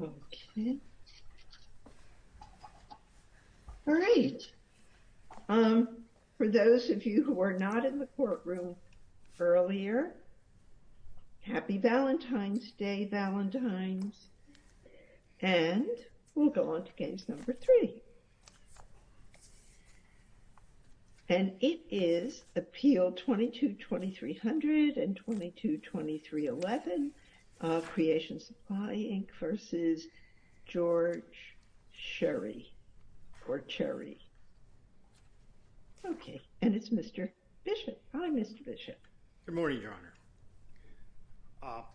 Okay. All right. For those of you who were not in the courtroom earlier, Happy Valentine's Day, Valentines! And we'll go on to case number three. And it is Appeal 22-2300 and 22-2311 of Creation Supply, Inc. v. George Cherrie, or Cherrie. Okay, and it's Mr. Bishop. Hi, Mr. Bishop. Good morning, Your Honor.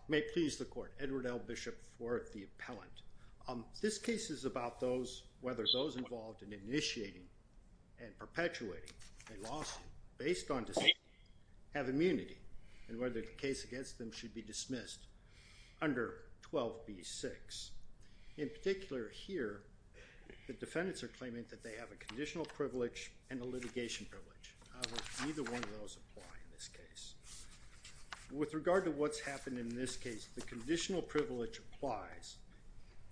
May it please the Court, Edward L. Bishop for the appellant. This case is about those, whether those involved in initiating and perpetuating a lawsuit based on dispute have immunity and whether the case against them should be dismissed under 12b-6. In particular here, the defendants are claiming that they have a conditional privilege and a litigation privilege. Neither one of those apply in this case. With regard to what's happened in this case, the conditional privilege applies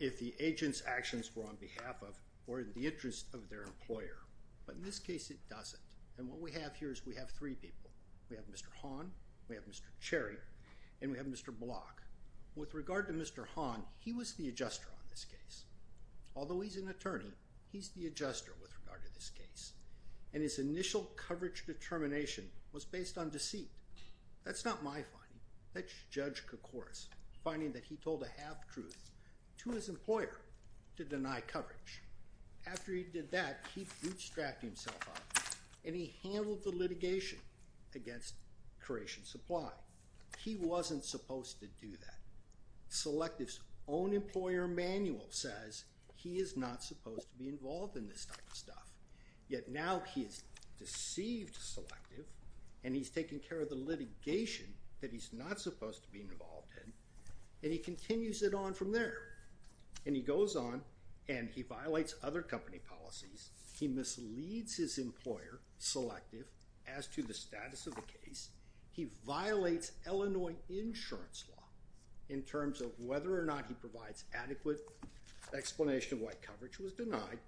if the agent's actions were on behalf of or in the interest of their employer. But in this case, it doesn't. And what we have here is we have three people. We have Mr. Hahn, we have Mr. Cherrie, and we have Mr. Block. With regard to Mr. Hahn, he was the adjuster on this case. Although he's an attorney, he's the adjuster with regard to this case. And his initial coverage determination was based on deceit. That's not my finding. That's Judge Koukouras' finding that he told a half-truth to his employer to deny coverage. After he did that, he bootstrapped himself out and he handled the litigation against Creation Supply. He wasn't supposed to do that. Selective's own employer manual says he is not supposed to be involved in this type of stuff. Yet now he has deceived Selective and he's taken care of the litigation that he's not supposed to be involved in. And he continues it on from there. And he goes on and he violates other company policies. He misleads his employer, Selective, as to the status of the case. He violates Illinois insurance law in terms of whether or not he provides adequate explanation why coverage was denied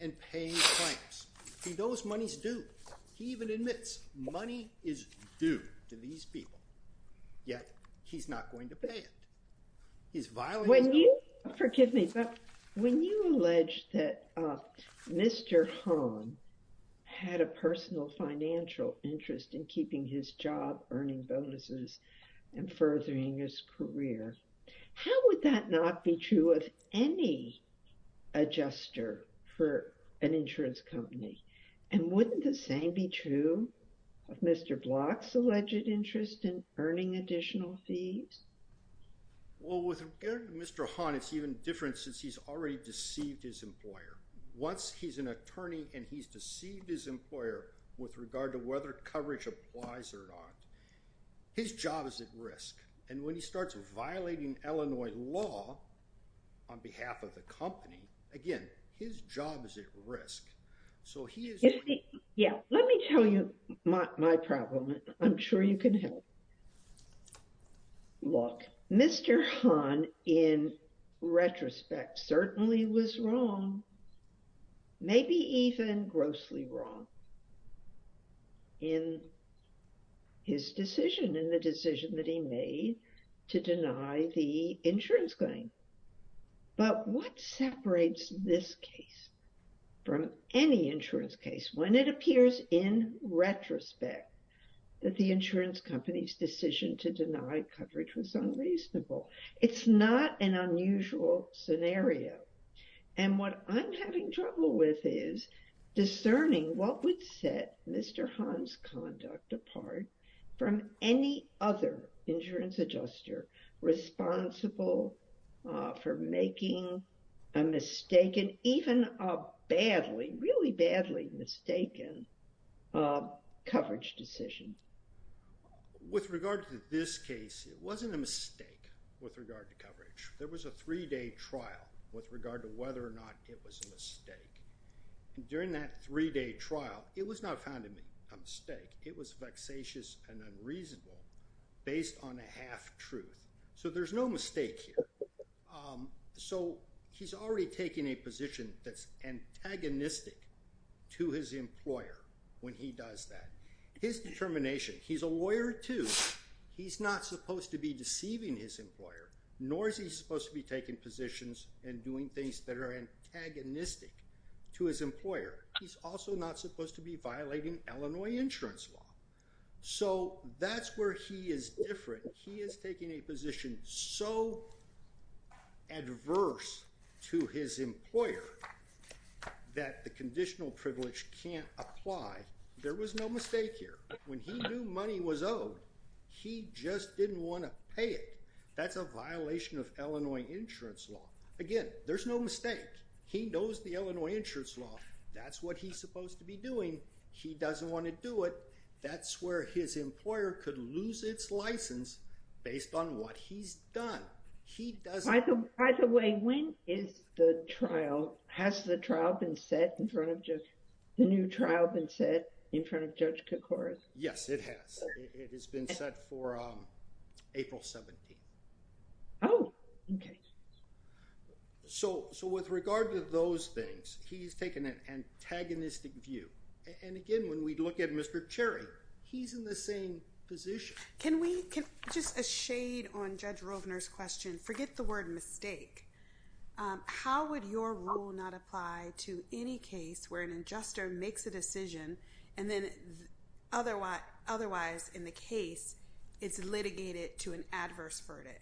and paying claims. He knows money's due. He even admits money is due to these people. Yet he's not going to pay it. He's violating his own— When you—forgive me, but when you allege that Mr. Hahn had a personal financial interest How would that not be true of any adjuster for an insurance company? And wouldn't the same be true of Mr. Block's alleged interest in earning additional fees? Well, with Mr. Hahn, it's even different since he's already deceived his employer. Once he's an attorney and he's deceived his employer with regard to whether coverage applies or not, his job is at risk. And when he starts violating Illinois law on behalf of the company, again, his job is at risk. So he is— Yeah, let me tell you my problem. I'm sure you can help. Look, Mr. Hahn, in retrospect, certainly was wrong. Maybe even grossly wrong in his decision, in the decision that he made to deny the insurance claim. But what separates this case from any insurance case when it appears in retrospect that the insurance company's decision to deny coverage was unreasonable? It's not an unusual scenario. And what I'm having trouble with is discerning what would set Mr. Hahn's conduct apart from any other insurance adjuster responsible for making a mistaken, even a badly, really badly mistaken coverage decision. With regard to this case, it wasn't a mistake with regard to coverage. There was a three-day trial with regard to whether or not it was a mistake. During that three-day trial, it was not found a mistake. It was vexatious and unreasonable based on a half-truth. So there's no mistake here. So he's already taking a position that's antagonistic to his employer when he does that. His determination—he's a lawyer, too. He's not supposed to be deceiving his employer, nor is he supposed to be taking positions and doing things that are antagonistic to his employer. He's also not supposed to be violating Illinois insurance law. So that's where he is different. He is taking a position so adverse to his employer that the conditional privilege can't apply. There was no mistake here. When he knew money was owed, he just didn't want to pay it. That's a violation of Illinois insurance law. Again, there's no mistake. He knows the Illinois insurance law. That's what he's supposed to be doing. He doesn't want to do it. That's where his employer could lose its license based on what he's done. He doesn't— Has the trial been set in front of Judge—the new trial been set in front of Judge Koukouras? Yes, it has. It has been set for April 17th. Oh, okay. So with regard to those things, he's taken an antagonistic view. And again, when we look at Mr. Cherry, he's in the same position. Can we—just a shade on Judge Rovner's question. Forget the word mistake. How would your rule not apply to any case where an adjuster makes a decision and then otherwise, in the case, it's litigated to an adverse verdict?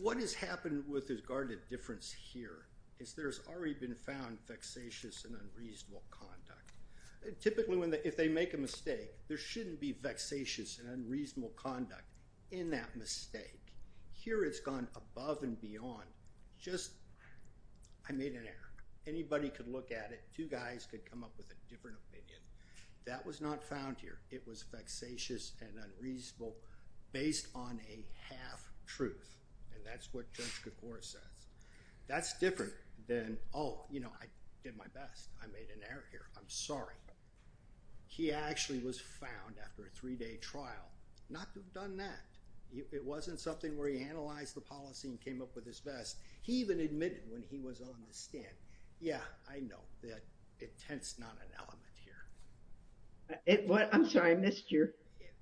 What has happened with regard to difference here is there's already been found vexatious and unreasonable conduct. Typically, if they make a mistake, there shouldn't be vexatious and unreasonable conduct in that mistake. Here, it's gone above and beyond. Just—I made an error. Anybody could look at it. Two guys could come up with a different opinion. That was not found here. It was vexatious and unreasonable based on a half-truth. And that's what Judge Koukouras says. That's different than, oh, you know, I did my best. I made an error here. I'm sorry. He actually was found after a three-day trial not to have done that. It wasn't something where he analyzed the policy and came up with his best. He even admitted when he was on the stand. Yeah, I know that intent's not an element here. I'm sorry. I missed you.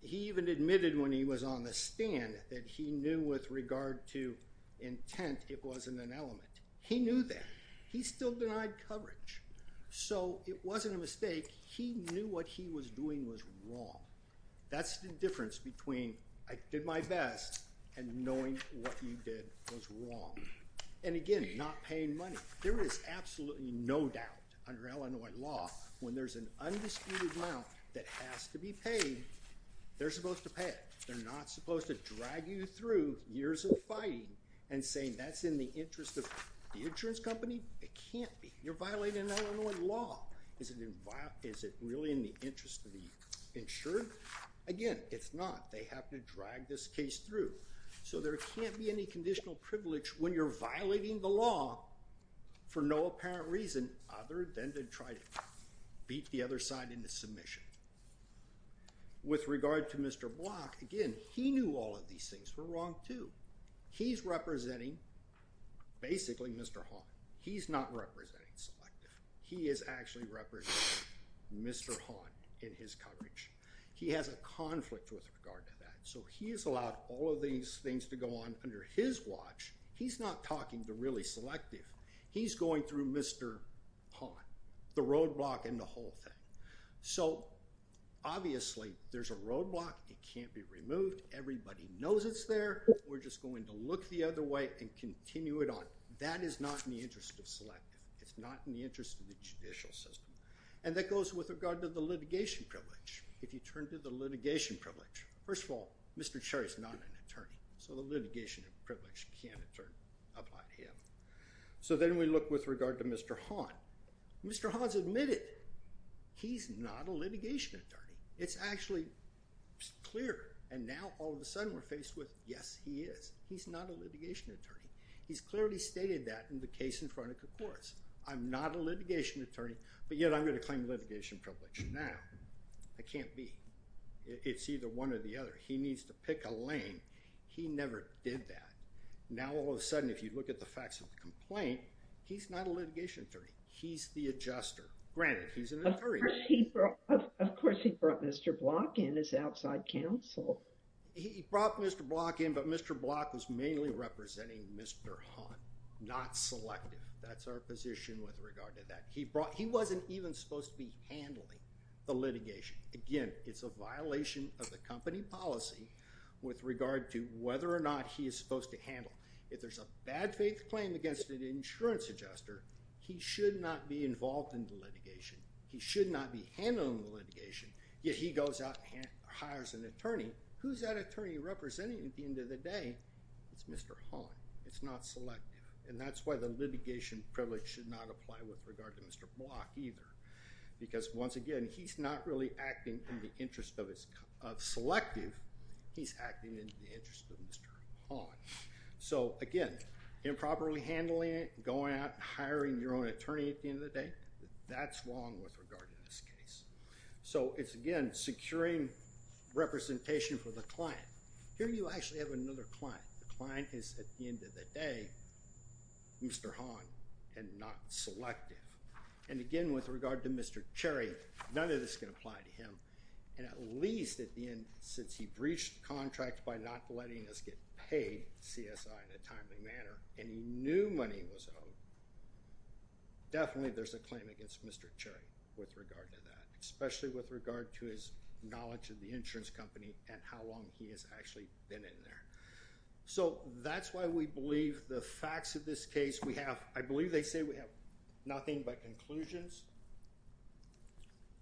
He even admitted when he was on the stand that he knew with regard to intent it wasn't an element. He knew that. He still denied coverage. So it wasn't a mistake. He knew what he was doing was wrong. That's the difference between I did my best and knowing what you did was wrong. And, again, not paying money. There is absolutely no doubt under Illinois law when there's an undisputed amount that has to be paid, they're supposed to pay it. They're not supposed to drag you through years of fighting and saying that's in the interest of the insurance company. It can't be. You're violating Illinois law. Is it really in the interest of the insured? Again, it's not. They have to drag this case through. So there can't be any conditional privilege when you're violating the law for no apparent reason other than to try to beat the other side into submission. With regard to Mr. Block, again, he knew all of these things were wrong, too. He's representing basically Mr. Hall. He's not representing Selective. He is actually representing Mr. Haunt in his coverage. He has a conflict with regard to that. So he has allowed all of these things to go on under his watch. He's not talking to really Selective. He's going through Mr. Haunt, the roadblock and the whole thing. So, obviously, there's a roadblock. It can't be removed. Everybody knows it's there. We're just going to look the other way and continue it on. That is not in the interest of Selective. It's not in the interest of the judicial system. And that goes with regard to the litigation privilege. If you turn to the litigation privilege, first of all, Mr. Cherry is not an attorney. So the litigation privilege can't apply to him. So then we look with regard to Mr. Haunt. Mr. Haunt has admitted he's not a litigation attorney. It's actually clear. And now, all of a sudden, we're faced with, yes, he is. He's not a litigation attorney. He's clearly stated that in the case in front of the courts. I'm not a litigation attorney, but yet I'm going to claim litigation privilege. Now, I can't be. It's either one or the other. He needs to pick a lane. He never did that. Now, all of a sudden, if you look at the facts of the complaint, he's not a litigation attorney. He's the adjuster. Granted, he's an attorney. Of course, he brought Mr. Block in, his outside counsel. He brought Mr. Block in, but Mr. Block was mainly representing Mr. Haunt, not selective. That's our position with regard to that. He wasn't even supposed to be handling the litigation. Again, it's a violation of the company policy with regard to whether or not he is supposed to handle. If there's a bad faith claim against an insurance adjuster, he should not be involved in the litigation. He should not be handling the litigation. Yet he goes out and hires an attorney. Who's that attorney representing at the end of the day? It's Mr. Haunt. It's not selective. And that's why the litigation privilege should not apply with regard to Mr. Block either. Because once again, he's not really acting in the interest of selective. He's acting in the interest of Mr. Haunt. So again, improperly handling it, going out and hiring your own attorney at the end of the day, that's wrong with regard to this case. So it's, again, securing representation for the client. Here you actually have another client. The client is, at the end of the day, Mr. Haunt and not selective. And again, with regard to Mr. Cherry, none of this can apply to him. And at least at the end, since he breached the contract by not letting us get paid CSI in a timely manner and he knew money was owed, definitely there's a claim against Mr. Cherry with regard to that, especially with regard to his knowledge of the insurance company and how long he has actually been in there. So that's why we believe the facts of this case we have. I believe they say we have nothing but conclusions.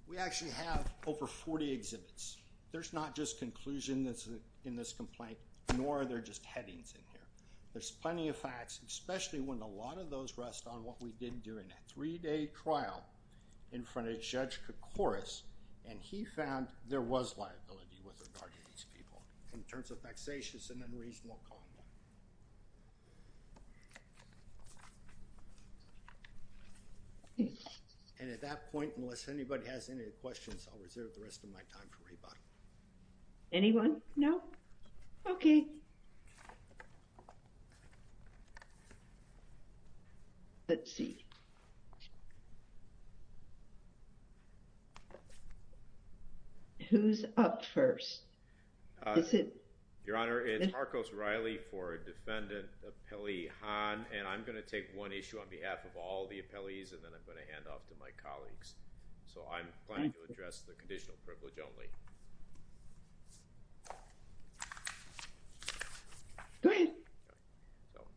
We actually have over 40 exhibits. There's not just conclusion that's in this complaint, nor are there just headings in here. There's plenty of facts, especially when a lot of those rest on what we did during a three-day trial in front of Judge Koukouris. And he found there was liability with regard to these people in terms of vexatious and unreasonable conduct. And at that point, unless anybody has any questions, I'll reserve the rest of my time for rebuttal. Anyone? No? OK. Let's see. Who's up first? Your Honor, it's Marcos Riley for Defendant Appellee Hahn. And I'm going to take one issue on behalf of all the appellees and then I'm going to hand off to my colleagues. So I'm planning to address the conditional privilege only. Go ahead.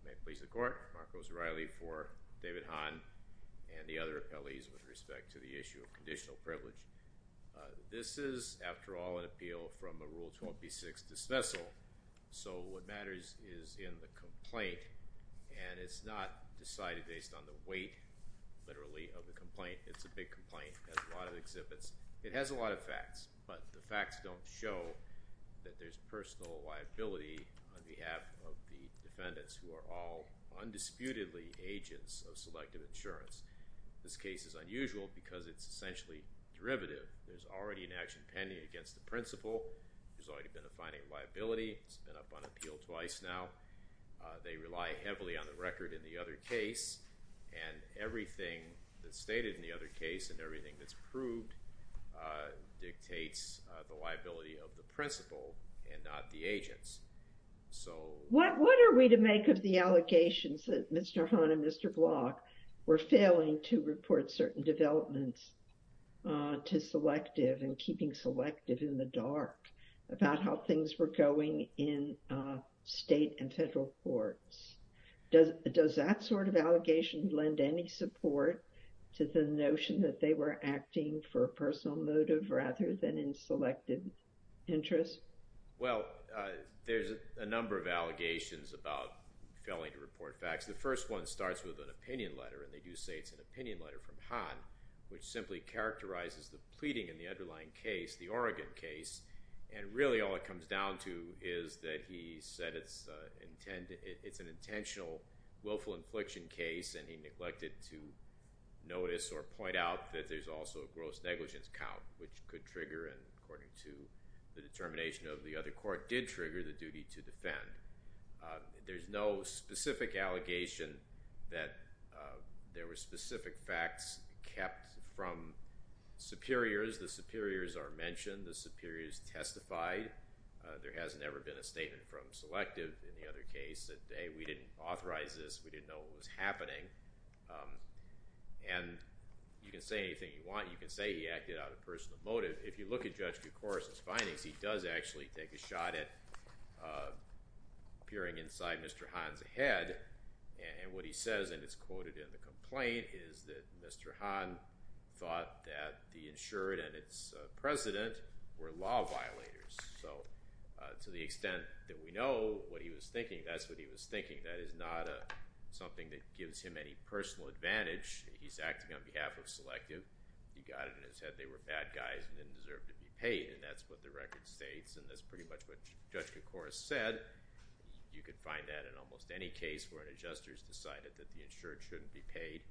May it please the Court. Marcos Riley for David Hahn and the other appellees with respect to the issue of conditional privilege. This is, after all, an appeal from a Rule 12b-6 dismissal. So what matters is in the complaint, and it's not decided based on the weight, literally, of the complaint. It's a big complaint. It has a lot of exhibits. It has a lot of facts, but the facts don't show that there's personal liability on behalf of the defendants who are all undisputedly agents of selective insurance. This case is unusual because it's essentially derivative. There's already an action pending against the principal. There's already been a finding of liability. It's been up on appeal twice now. They rely heavily on the record in the other case, and everything that's stated in the other case and everything that's proved dictates the liability of the principal and not the agents. So... What are we to make of the allegations that Mr. Hahn and Mr. Block were failing to report certain developments to selective and keeping selective in the dark about how things were going in state and federal courts? Does that sort of allegation lend any support to the notion that they were acting for a personal motive rather than in selective interest? Well, there's a number of allegations about failing to report facts. The first one starts with an opinion letter, and they do say it's an opinion letter from Hahn, which simply characterizes the pleading in the underlying case, the Oregon case, and really all it comes down to is that he said it's an intentional willful infliction case, and he neglected to notice or point out that there's also a gross negligence count, which could trigger, and according to the determination of the other court, did trigger the duty to defend. There's no specific allegation that there were specific facts kept from superiors. The superiors are mentioned, the superiors testified. There has never been a statement from selective in the other case that, hey, we didn't authorize this, we didn't know what was happening. And you can say anything you want. You can say he acted out of personal motive. If you look at Judge DeCora's findings, he does actually take a shot at peering inside Mr. Hahn's head, and what he says, and it's quoted in the complaint, is that Mr. Hahn thought that the insured and its president were law violators. So to the extent that we know what he was thinking, that's what he was thinking. That is not something that gives him any personal advantage. He's acting on behalf of selective. He got it in his head they were bad guys and didn't deserve to be paid, and that's what the record states, and that's pretty much what Judge DeCora said. You could find that in almost any case where an adjuster has decided that the insured shouldn't be paid.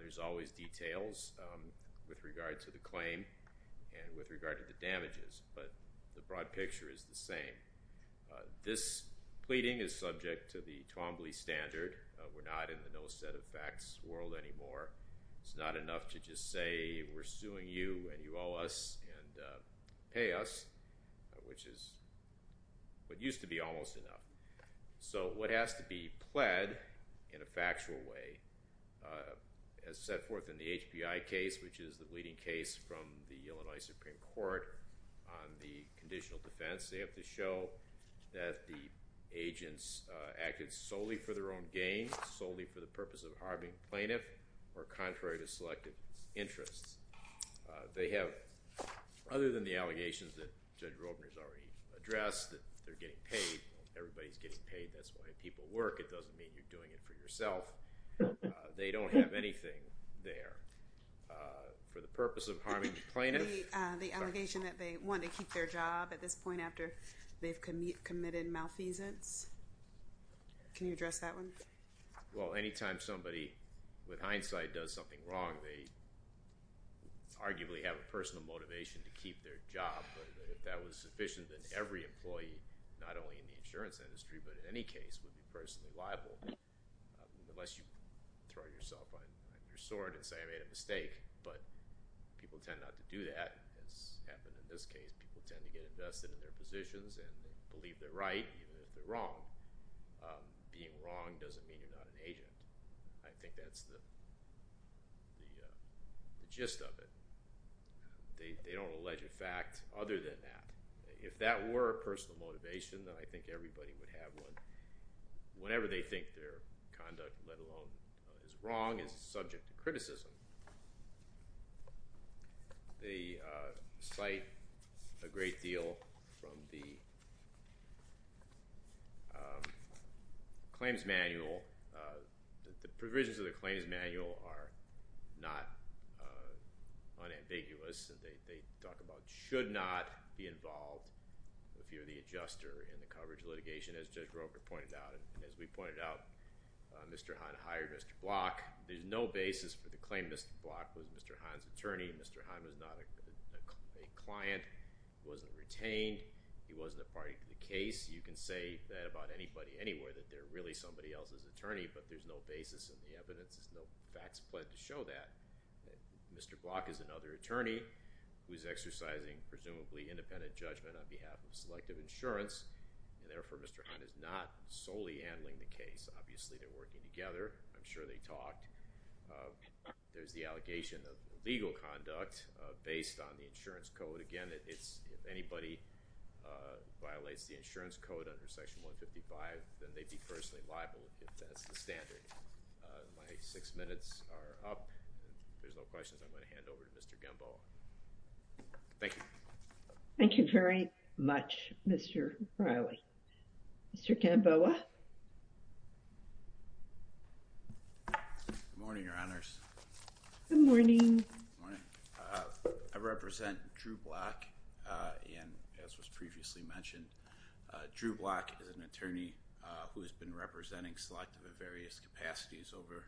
There's always details with regard to the claim and with regard to the damages, but the broad picture is the same. This pleading is subject to the Twombly standard. We're not in the no set of facts world anymore. It's not enough to just say, we're suing you and you owe us and pay us, which is what used to be almost enough. So what has to be pled in a factual way, as set forth in the HPI case, which is the leading case from the Illinois Supreme Court on the conditional defense, they have to show that the agents acted solely for their own gain, solely for the purpose of harming the plaintiff, or contrary to selective interests. They have, other than the allegations that Judge Robner's already addressed, that they're getting paid, everybody's getting paid, that's why people work. It doesn't mean you're doing it for yourself. They don't have anything there for the purpose of harming the plaintiff. The allegation that they want to keep their job at this point after they've committed malfeasance. Can you address that one? Well, anytime somebody, with hindsight, does something wrong, they arguably have a personal motivation to keep their job. If that was sufficient, then every employee, not only in the insurance industry, but in any case, would be personally liable, unless you throw yourself on your sword and say I made a mistake. But people tend not to do that, as happened in this case. People tend to get invested in their positions and believe they're right even if they're wrong. Being wrong doesn't mean you're not an agent. I think that's the gist of it. They don't allege a fact other than that. If that were a personal motivation, then I think everybody would have one. Whenever they think their conduct, let alone is wrong, is subject to criticism, they cite a great deal from the claims manual. The provisions of the claims manual are not unambiguous. They talk about should not be involved if you're the adjuster in the coverage litigation, as Judge Roker pointed out. As we pointed out, Mr. Hahn hired Mr. Block. There's no basis for the claim Mr. Block was Mr. Hahn's attorney. Mr. Hahn was not a client. He wasn't retained. He wasn't a party to the case. You can say that about anybody anywhere, that they're really somebody else's attorney, but there's no basis in the evidence. There's no facts to show that. Mr. Block is another attorney who is exercising presumably independent judgment on behalf of selective insurance. Therefore, Mr. Hahn is not solely handling the case. Obviously, they're working together. I'm sure they talk. There's the allegation of illegal conduct based on the insurance code. Again, if anybody violates the insurance code under Section 155, then they'd be personally liable if that's the standard. My six minutes are up. If there's no questions, I'm going to hand over to Mr. Gemboa. Thank you. Thank you very much, Mr. Reilly. Mr. Gemboa. Good morning, Your Honors. Good morning. Good morning. I represent Drew Block, and as was previously mentioned, Drew Block is an attorney who has been representing selective at various capacities over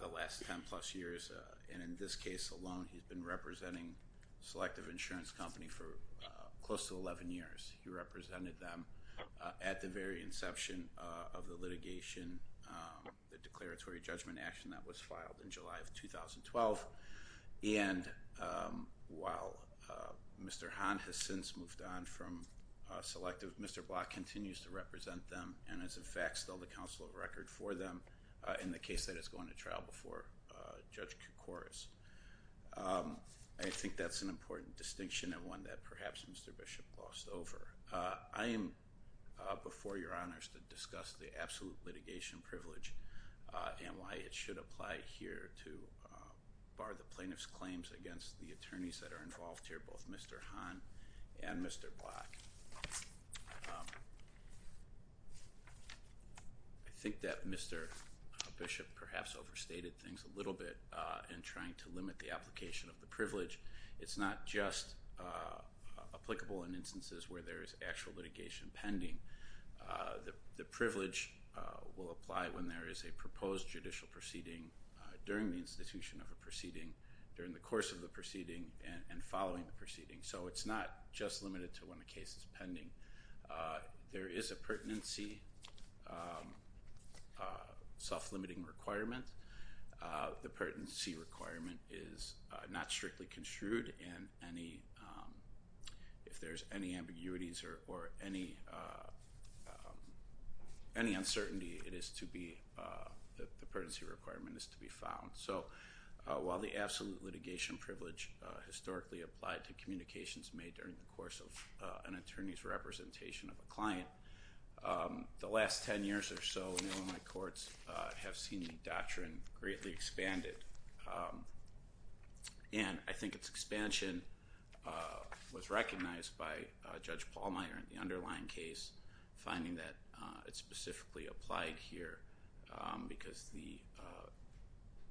the last 10 plus years. In this case alone, he's been representing Selective Insurance Company for close to 11 years. He represented them at the very inception of the litigation, the declaratory judgment action that was filed in July of 2012. And while Mr. Hahn has since moved on from Selective, Mr. Block continues to represent them and is, in fact, still the counsel of record for them in the case that is going to trial before Judge Koukouris. I think that's an important distinction and one that perhaps Mr. Bishop glossed over. I am before Your Honors to discuss the absolute litigation privilege and why it should apply here to bar the plaintiff's claims against the attorneys that are involved here, both Mr. Hahn and Mr. Block. I think that Mr. Bishop perhaps overstated things a little bit in trying to limit the application of the privilege. It's not just applicable in instances where there is actual litigation pending. The privilege will apply when there is a proposed judicial proceeding during the institution of a proceeding, so it's not just limited to when the case is pending. There is a pertinency self-limiting requirement. The pertinency requirement is not strictly construed. If there's any ambiguities or any uncertainty, the pertinency requirement is to be found. While the absolute litigation privilege historically applied to communications made during the course of an attorney's representation of a client, the last 10 years or so in Illinois courts have seen the doctrine greatly expanded. And I think its expansion was recognized by Judge Pallmeyer in the underlying case, finding that it specifically applied here because the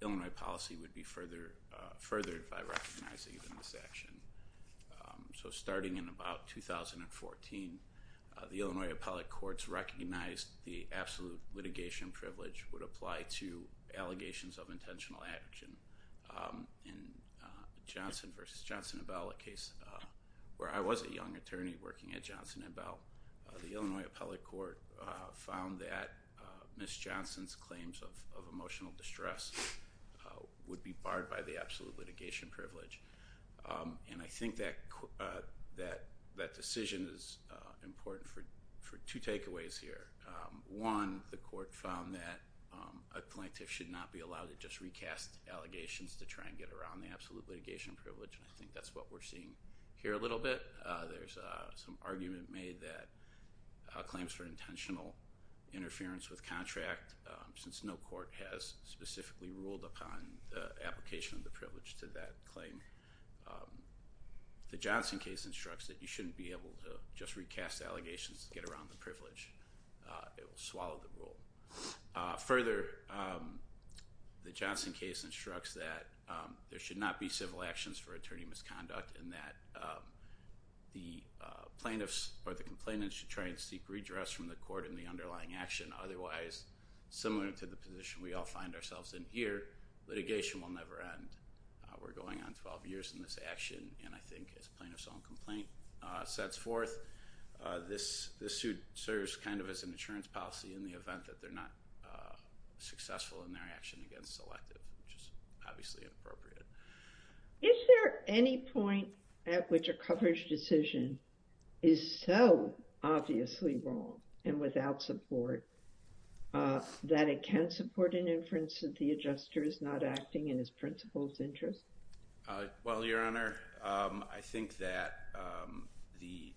Illinois policy would be furthered by recognizing this action. So starting in about 2014, the Illinois appellate courts recognized the absolute litigation privilege would apply to allegations of intentional action. In Johnson v. Johnson & Bell, a case where I was a young attorney working at Johnson & Bell, the Illinois appellate court found that Ms. Johnson's claims of emotional distress would be barred by the absolute litigation privilege. And I think that decision is important for two takeaways here. One, the court found that a plaintiff should not be allowed to just recast allegations to try and get around the absolute litigation privilege, and I think that's what we're seeing here a little bit. There's some argument made that claims for intentional interference with contract, since no court has specifically ruled upon the application of the privilege to that claim, the Johnson case instructs that you shouldn't be able to just recast allegations to get around the privilege. It will swallow the rule. Further, the Johnson case instructs that there should not be the plaintiffs or the complainants to try and seek redress from the court in the underlying action. Otherwise, similar to the position we all find ourselves in here, litigation will never end. We're going on 12 years in this action, and I think as plaintiff's own complaint sets forth, this suit serves kind of as an insurance policy in the event that they're not successful in their action against selective, which is obviously inappropriate. Is there any point at which a coverage decision is so obviously wrong and without support that it can support an inference that the adjuster is not acting in his principal's interest? Well, Your Honor, I think that the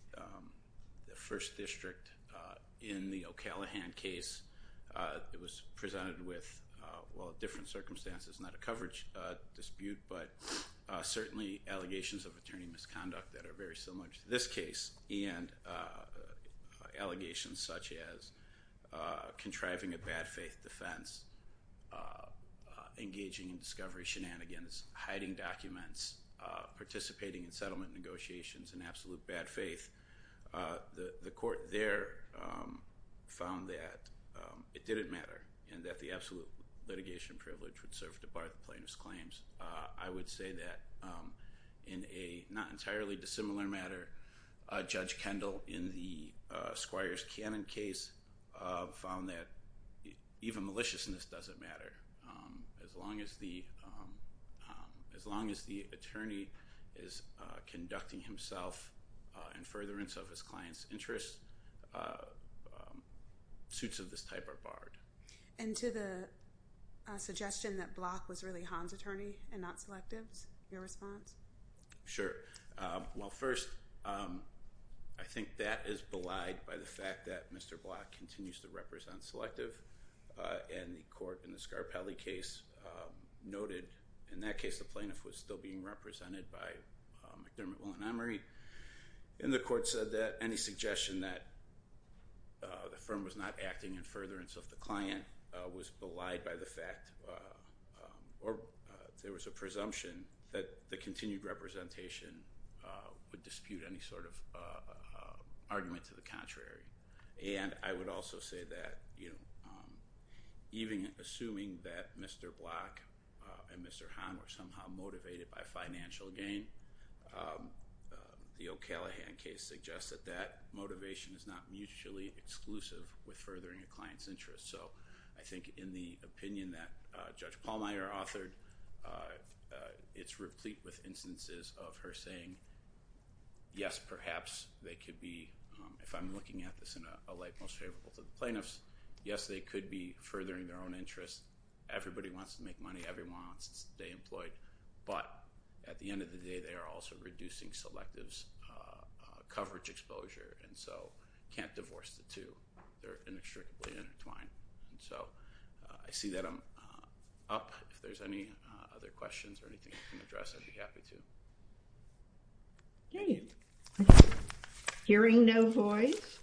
first district in the O'Callaghan case, it was presented with, well, different circumstances, not a coverage dispute, but certainly allegations of attorney misconduct that are very similar to this case, and allegations such as contriving a bad faith defense, engaging in discovery shenanigans, hiding documents, participating in settlement negotiations in absolute bad faith. The court there found that it didn't matter and that the absolute litigation privilege would serve to bar the plaintiff's claims. I would say that in a not entirely dissimilar matter, Judge Kendall in the Squires Cannon case found that even maliciousness doesn't matter. As long as the attorney is conducting himself in furtherance of his client's interest, suits of this type are barred. And to the suggestion that Block was really Hahn's attorney and not Selective's, your response? Sure. Well, first, I think that is belied by the fact that Mr. Block continues to represent Selective, and the court in the Scarpelli case noted, in that case, the plaintiff was still being represented by McDermott, Will and Emory, and the court said that any suggestion that the firm was not acting in furtherance of the client was belied by the fact, or there was a presumption that the continued representation would dispute any sort of argument to the contrary. And I would also say that even assuming that Mr. Block and Mr. Hahn were somehow motivated by financial gain, the O'Callaghan case suggests that that motivation is not mutually exclusive with furthering a client's interest. So I think in the opinion that Judge Pallmeyer authored, it's replete with instances of her saying, yes, perhaps they could be, if I'm looking at this in a light most favorable to the plaintiffs, yes, they could be furthering their own interests. Everybody wants to make money. Everyone wants to stay employed. But at the end of the day, they are also reducing Selective's coverage exposure, and so can't divorce the two. They're inextricably intertwined. And so I see that I'm up. If there's any other questions or anything I can address, I'd be happy to. Okay. Hearing no voice.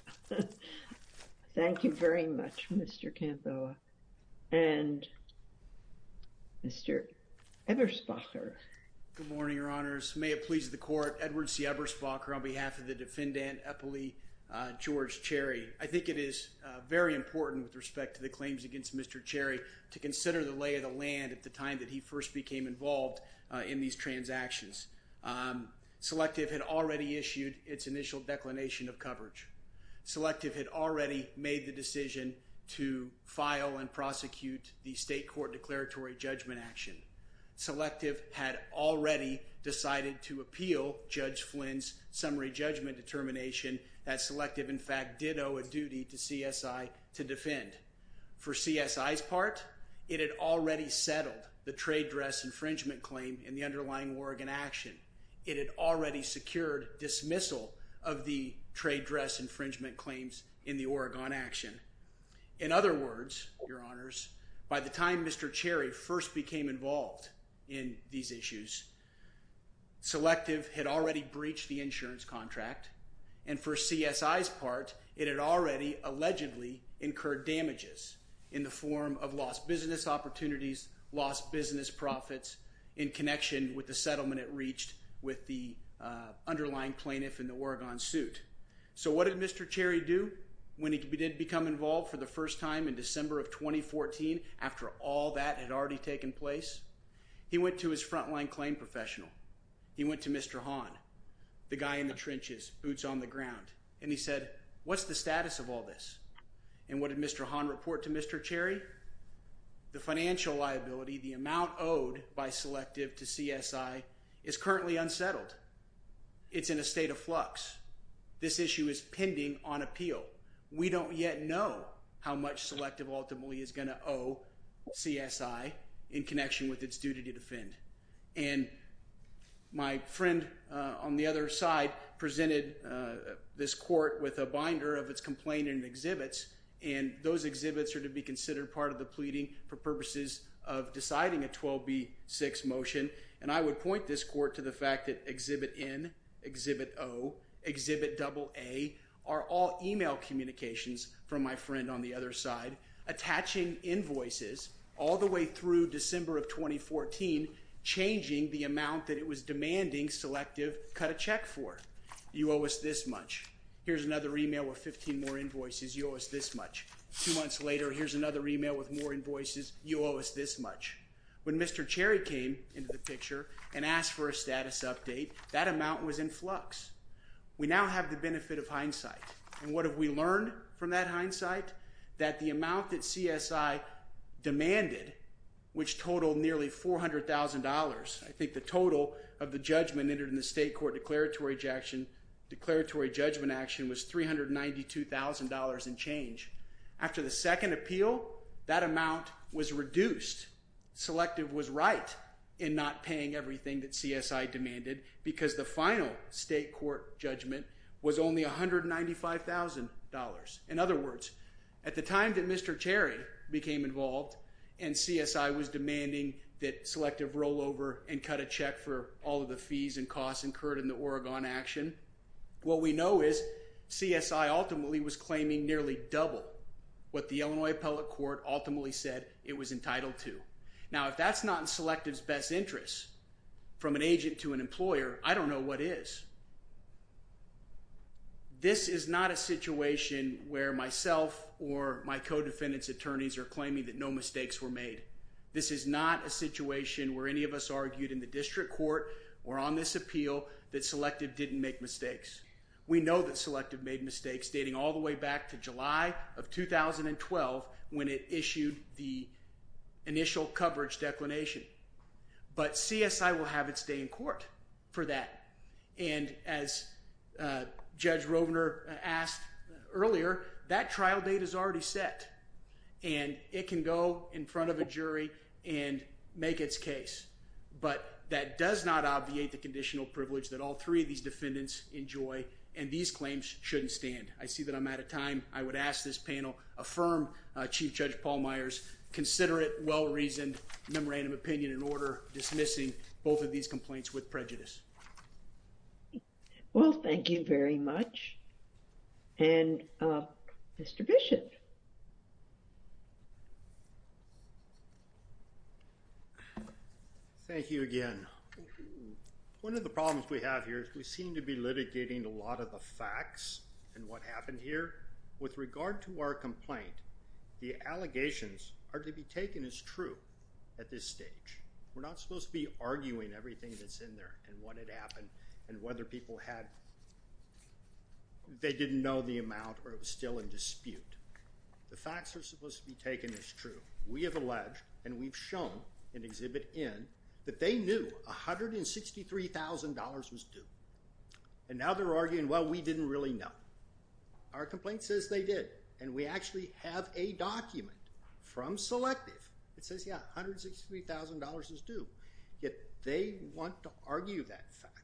Thank you very much, Mr. Campo. And Mr. Eberspacher. Good morning, Your Honors. May it please the court. Edward C. Eberspacher on behalf of the defendant, Eppley George Cherry. I think it is very important with respect to the claims against Mr. Cherry to consider the lay of the land at the time that he first became involved in these transactions. Selective had already issued its initial declination of coverage. Selective had already made the decision to file and prosecute the state court declaratory judgment action. Selective had already decided to appeal Judge Flynn's summary judgment determination that Selective, in fact, did owe a duty to CSI to defend. For CSI's part, it had already settled the trade dress infringement claim in the underlying Oregon action. It had already secured dismissal of the trade dress infringement claims in the Oregon action. In other words, Your Honors, by the time Mr. Cherry first became involved in these issues, Selective had already breached the insurance contract. And for CSI's part, it had already allegedly incurred damages in the form of lost business opportunities, lost business profits, in connection with the settlement it reached with the underlying plaintiff in the Oregon suit. So what did Mr. Cherry do when he did become involved for the first time in December of 2014 after all that had already taken place? He went to his frontline claim professional. He went to Mr. Hahn, the guy in the trenches, boots on the ground. And he said, what's the status of all this? And what did Mr. Hahn report to Mr. Cherry? The financial liability, the amount owed by Selective to CSI is currently unsettled. It's in a state of flux. This issue is pending on appeal. We don't yet know how much Selective ultimately is going to owe CSI in connection with its duty to defend. And my friend on the other side presented this court with a binder of its complaint and exhibits. And those exhibits are to be considered part of the pleading for purposes of deciding a 12B6 motion. And I would point this court to the fact that Exhibit N, Exhibit O, Exhibit AA are all email communications from my friend on the other side, attaching invoices all the way through December of 2014, changing the amount that it was demanding Selective cut a check for. You owe us this much. Here's another email with 15 more invoices. You owe us this much. Two months later, here's another email with more invoices. You owe us this much. When Mr. Cherry came into the picture and asked for a status update, that amount was in flux. We now have the benefit of hindsight. And what have we learned from that hindsight? That the amount that CSI demanded, which totaled nearly $400,000, I think the total of the judgment entered in the state court declaratory action was $392,000 and change. After the second appeal, that amount was reduced. Selective was right in not paying everything that CSI demanded because the final state court judgment was only $195,000. In other words, at the time that Mr. Cherry became involved and CSI was demanding that Selective roll over and cut a check for all of the fees and costs incurred in the Oregon action, what we know is CSI ultimately was claiming nearly double what the Illinois appellate court ultimately said it was entitled to. Now, if that's not in Selective's best interest, from an agent to an employer, I don't know what is. This is not a situation where myself or my co-defendants attorneys are claiming that no mistakes were made. This is not a situation where any of us argued in the district court or on this appeal that Selective didn't make mistakes. We know that Selective made mistakes dating all the way back to July of 2012 when it issued the initial coverage declination. But CSI will have its day in court for that. And as Judge Rovner asked earlier, that trial date is already set. And it can go in front of a jury and make its case. But that does not obviate the conditional privilege that all three of these defendants enjoy. And these claims shouldn't stand. I see that I'm out of time. I would ask this panel affirm Chief Judge Paul Myers' considerate, well-reasoned memorandum opinion in order dismissing both of these complaints with prejudice. Well, thank you very much. And Mr. Bishop. Thank you again. One of the problems we have here is we seem to be litigating a lot of the facts and what happened here. With regard to our complaint, the allegations are to be taken as true at this stage. We're not supposed to be arguing everything that's in there and what had happened and whether people had they didn't know the amount or it was still in dispute. The facts are supposed to be taken as true. We have alleged and we've shown in Exhibit N that they knew $163,000 was due. And now they're arguing, well, we didn't really know. Our complaint says they did. And we actually have a document from Selective that says, yeah, $163,000 is due. Yet they want to argue that fact.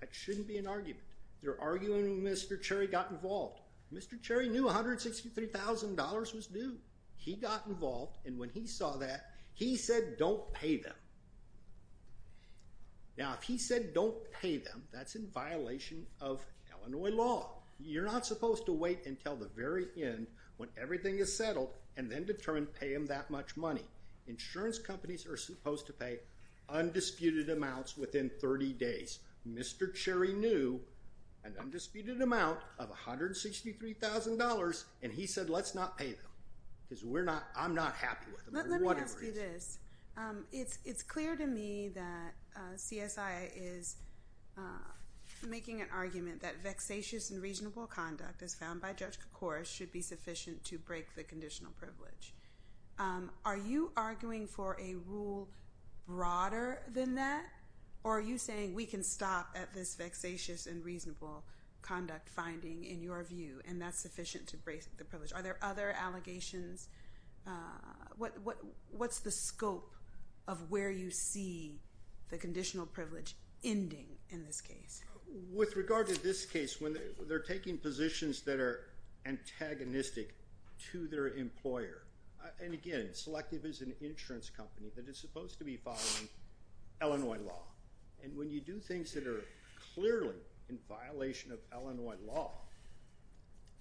That shouldn't be an argument. They're arguing Mr. Cherry got involved. Mr. Cherry knew $163,000 was due. He got involved. And when he saw that, he said don't pay them. Now, if he said don't pay them, that's in violation of Illinois law. You're not supposed to wait until the very end when everything is settled and then determine pay him that much money. Insurance companies are supposed to pay undisputed amounts within 30 days. Mr. Cherry knew an undisputed amount of $163,000. And he said let's not pay them because I'm not happy with them for whatever reason. Let me ask you this. It's clear to me that CSIA is making an argument that vexatious and reasonable conduct, as found by Judge Kocouris, should be sufficient to break the conditional privilege. Are you arguing for a rule broader than that? Or are you saying we can stop at this vexatious and reasonable conduct finding, in your view, and that's sufficient to break the privilege? Are there other allegations? What's the scope of where you see the conditional privilege ending in this case? With regard to this case, when they're taking positions that are antagonistic to their employer, and again, Selective is an insurance company that is supposed to be following Illinois law. And when you do things that are clearly in violation of Illinois law,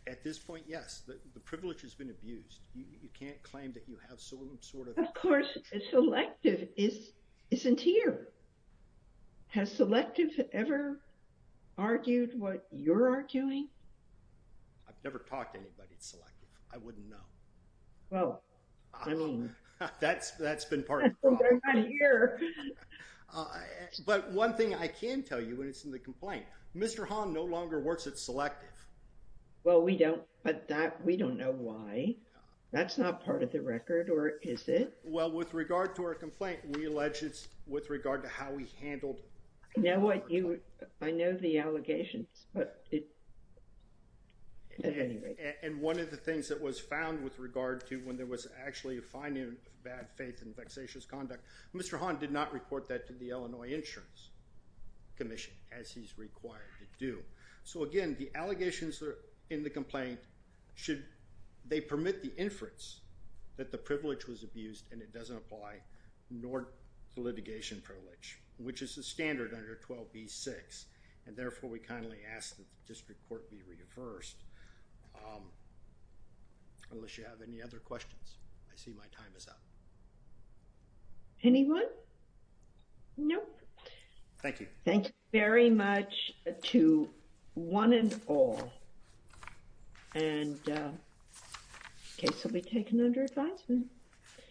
at this point, yes, the privilege has been abused. You can't claim that you have some sort of— Of course, Selective isn't here. Has Selective ever argued what you're arguing? I've never talked to anybody at Selective. I wouldn't know. Well, I mean— That's been part of the problem. But one thing I can tell you, and it's in the complaint, Mr. Hahn no longer works at Selective. Well, we don't, but that—we don't know why. That's not part of the record, or is it? Well, with regard to our complaint, we allege it's with regard to how we handled— I know the allegations, but it— And one of the things that was found with regard to when there was actually a finding of bad faith and vexatious conduct, Mr. Hahn did not report that to the Illinois Insurance Commission, as he's required to do. So again, the allegations that are in the complaint should—they permit the inference that the privilege was abused, and it doesn't apply, nor the litigation privilege, which is the standard under 12b-6. And therefore, we kindly ask that the district court be reversed, unless you have any other questions. I see my time is up. Anyone? Nope. Thank you. Thank you very much to one and all. And the case will be taken under advisement.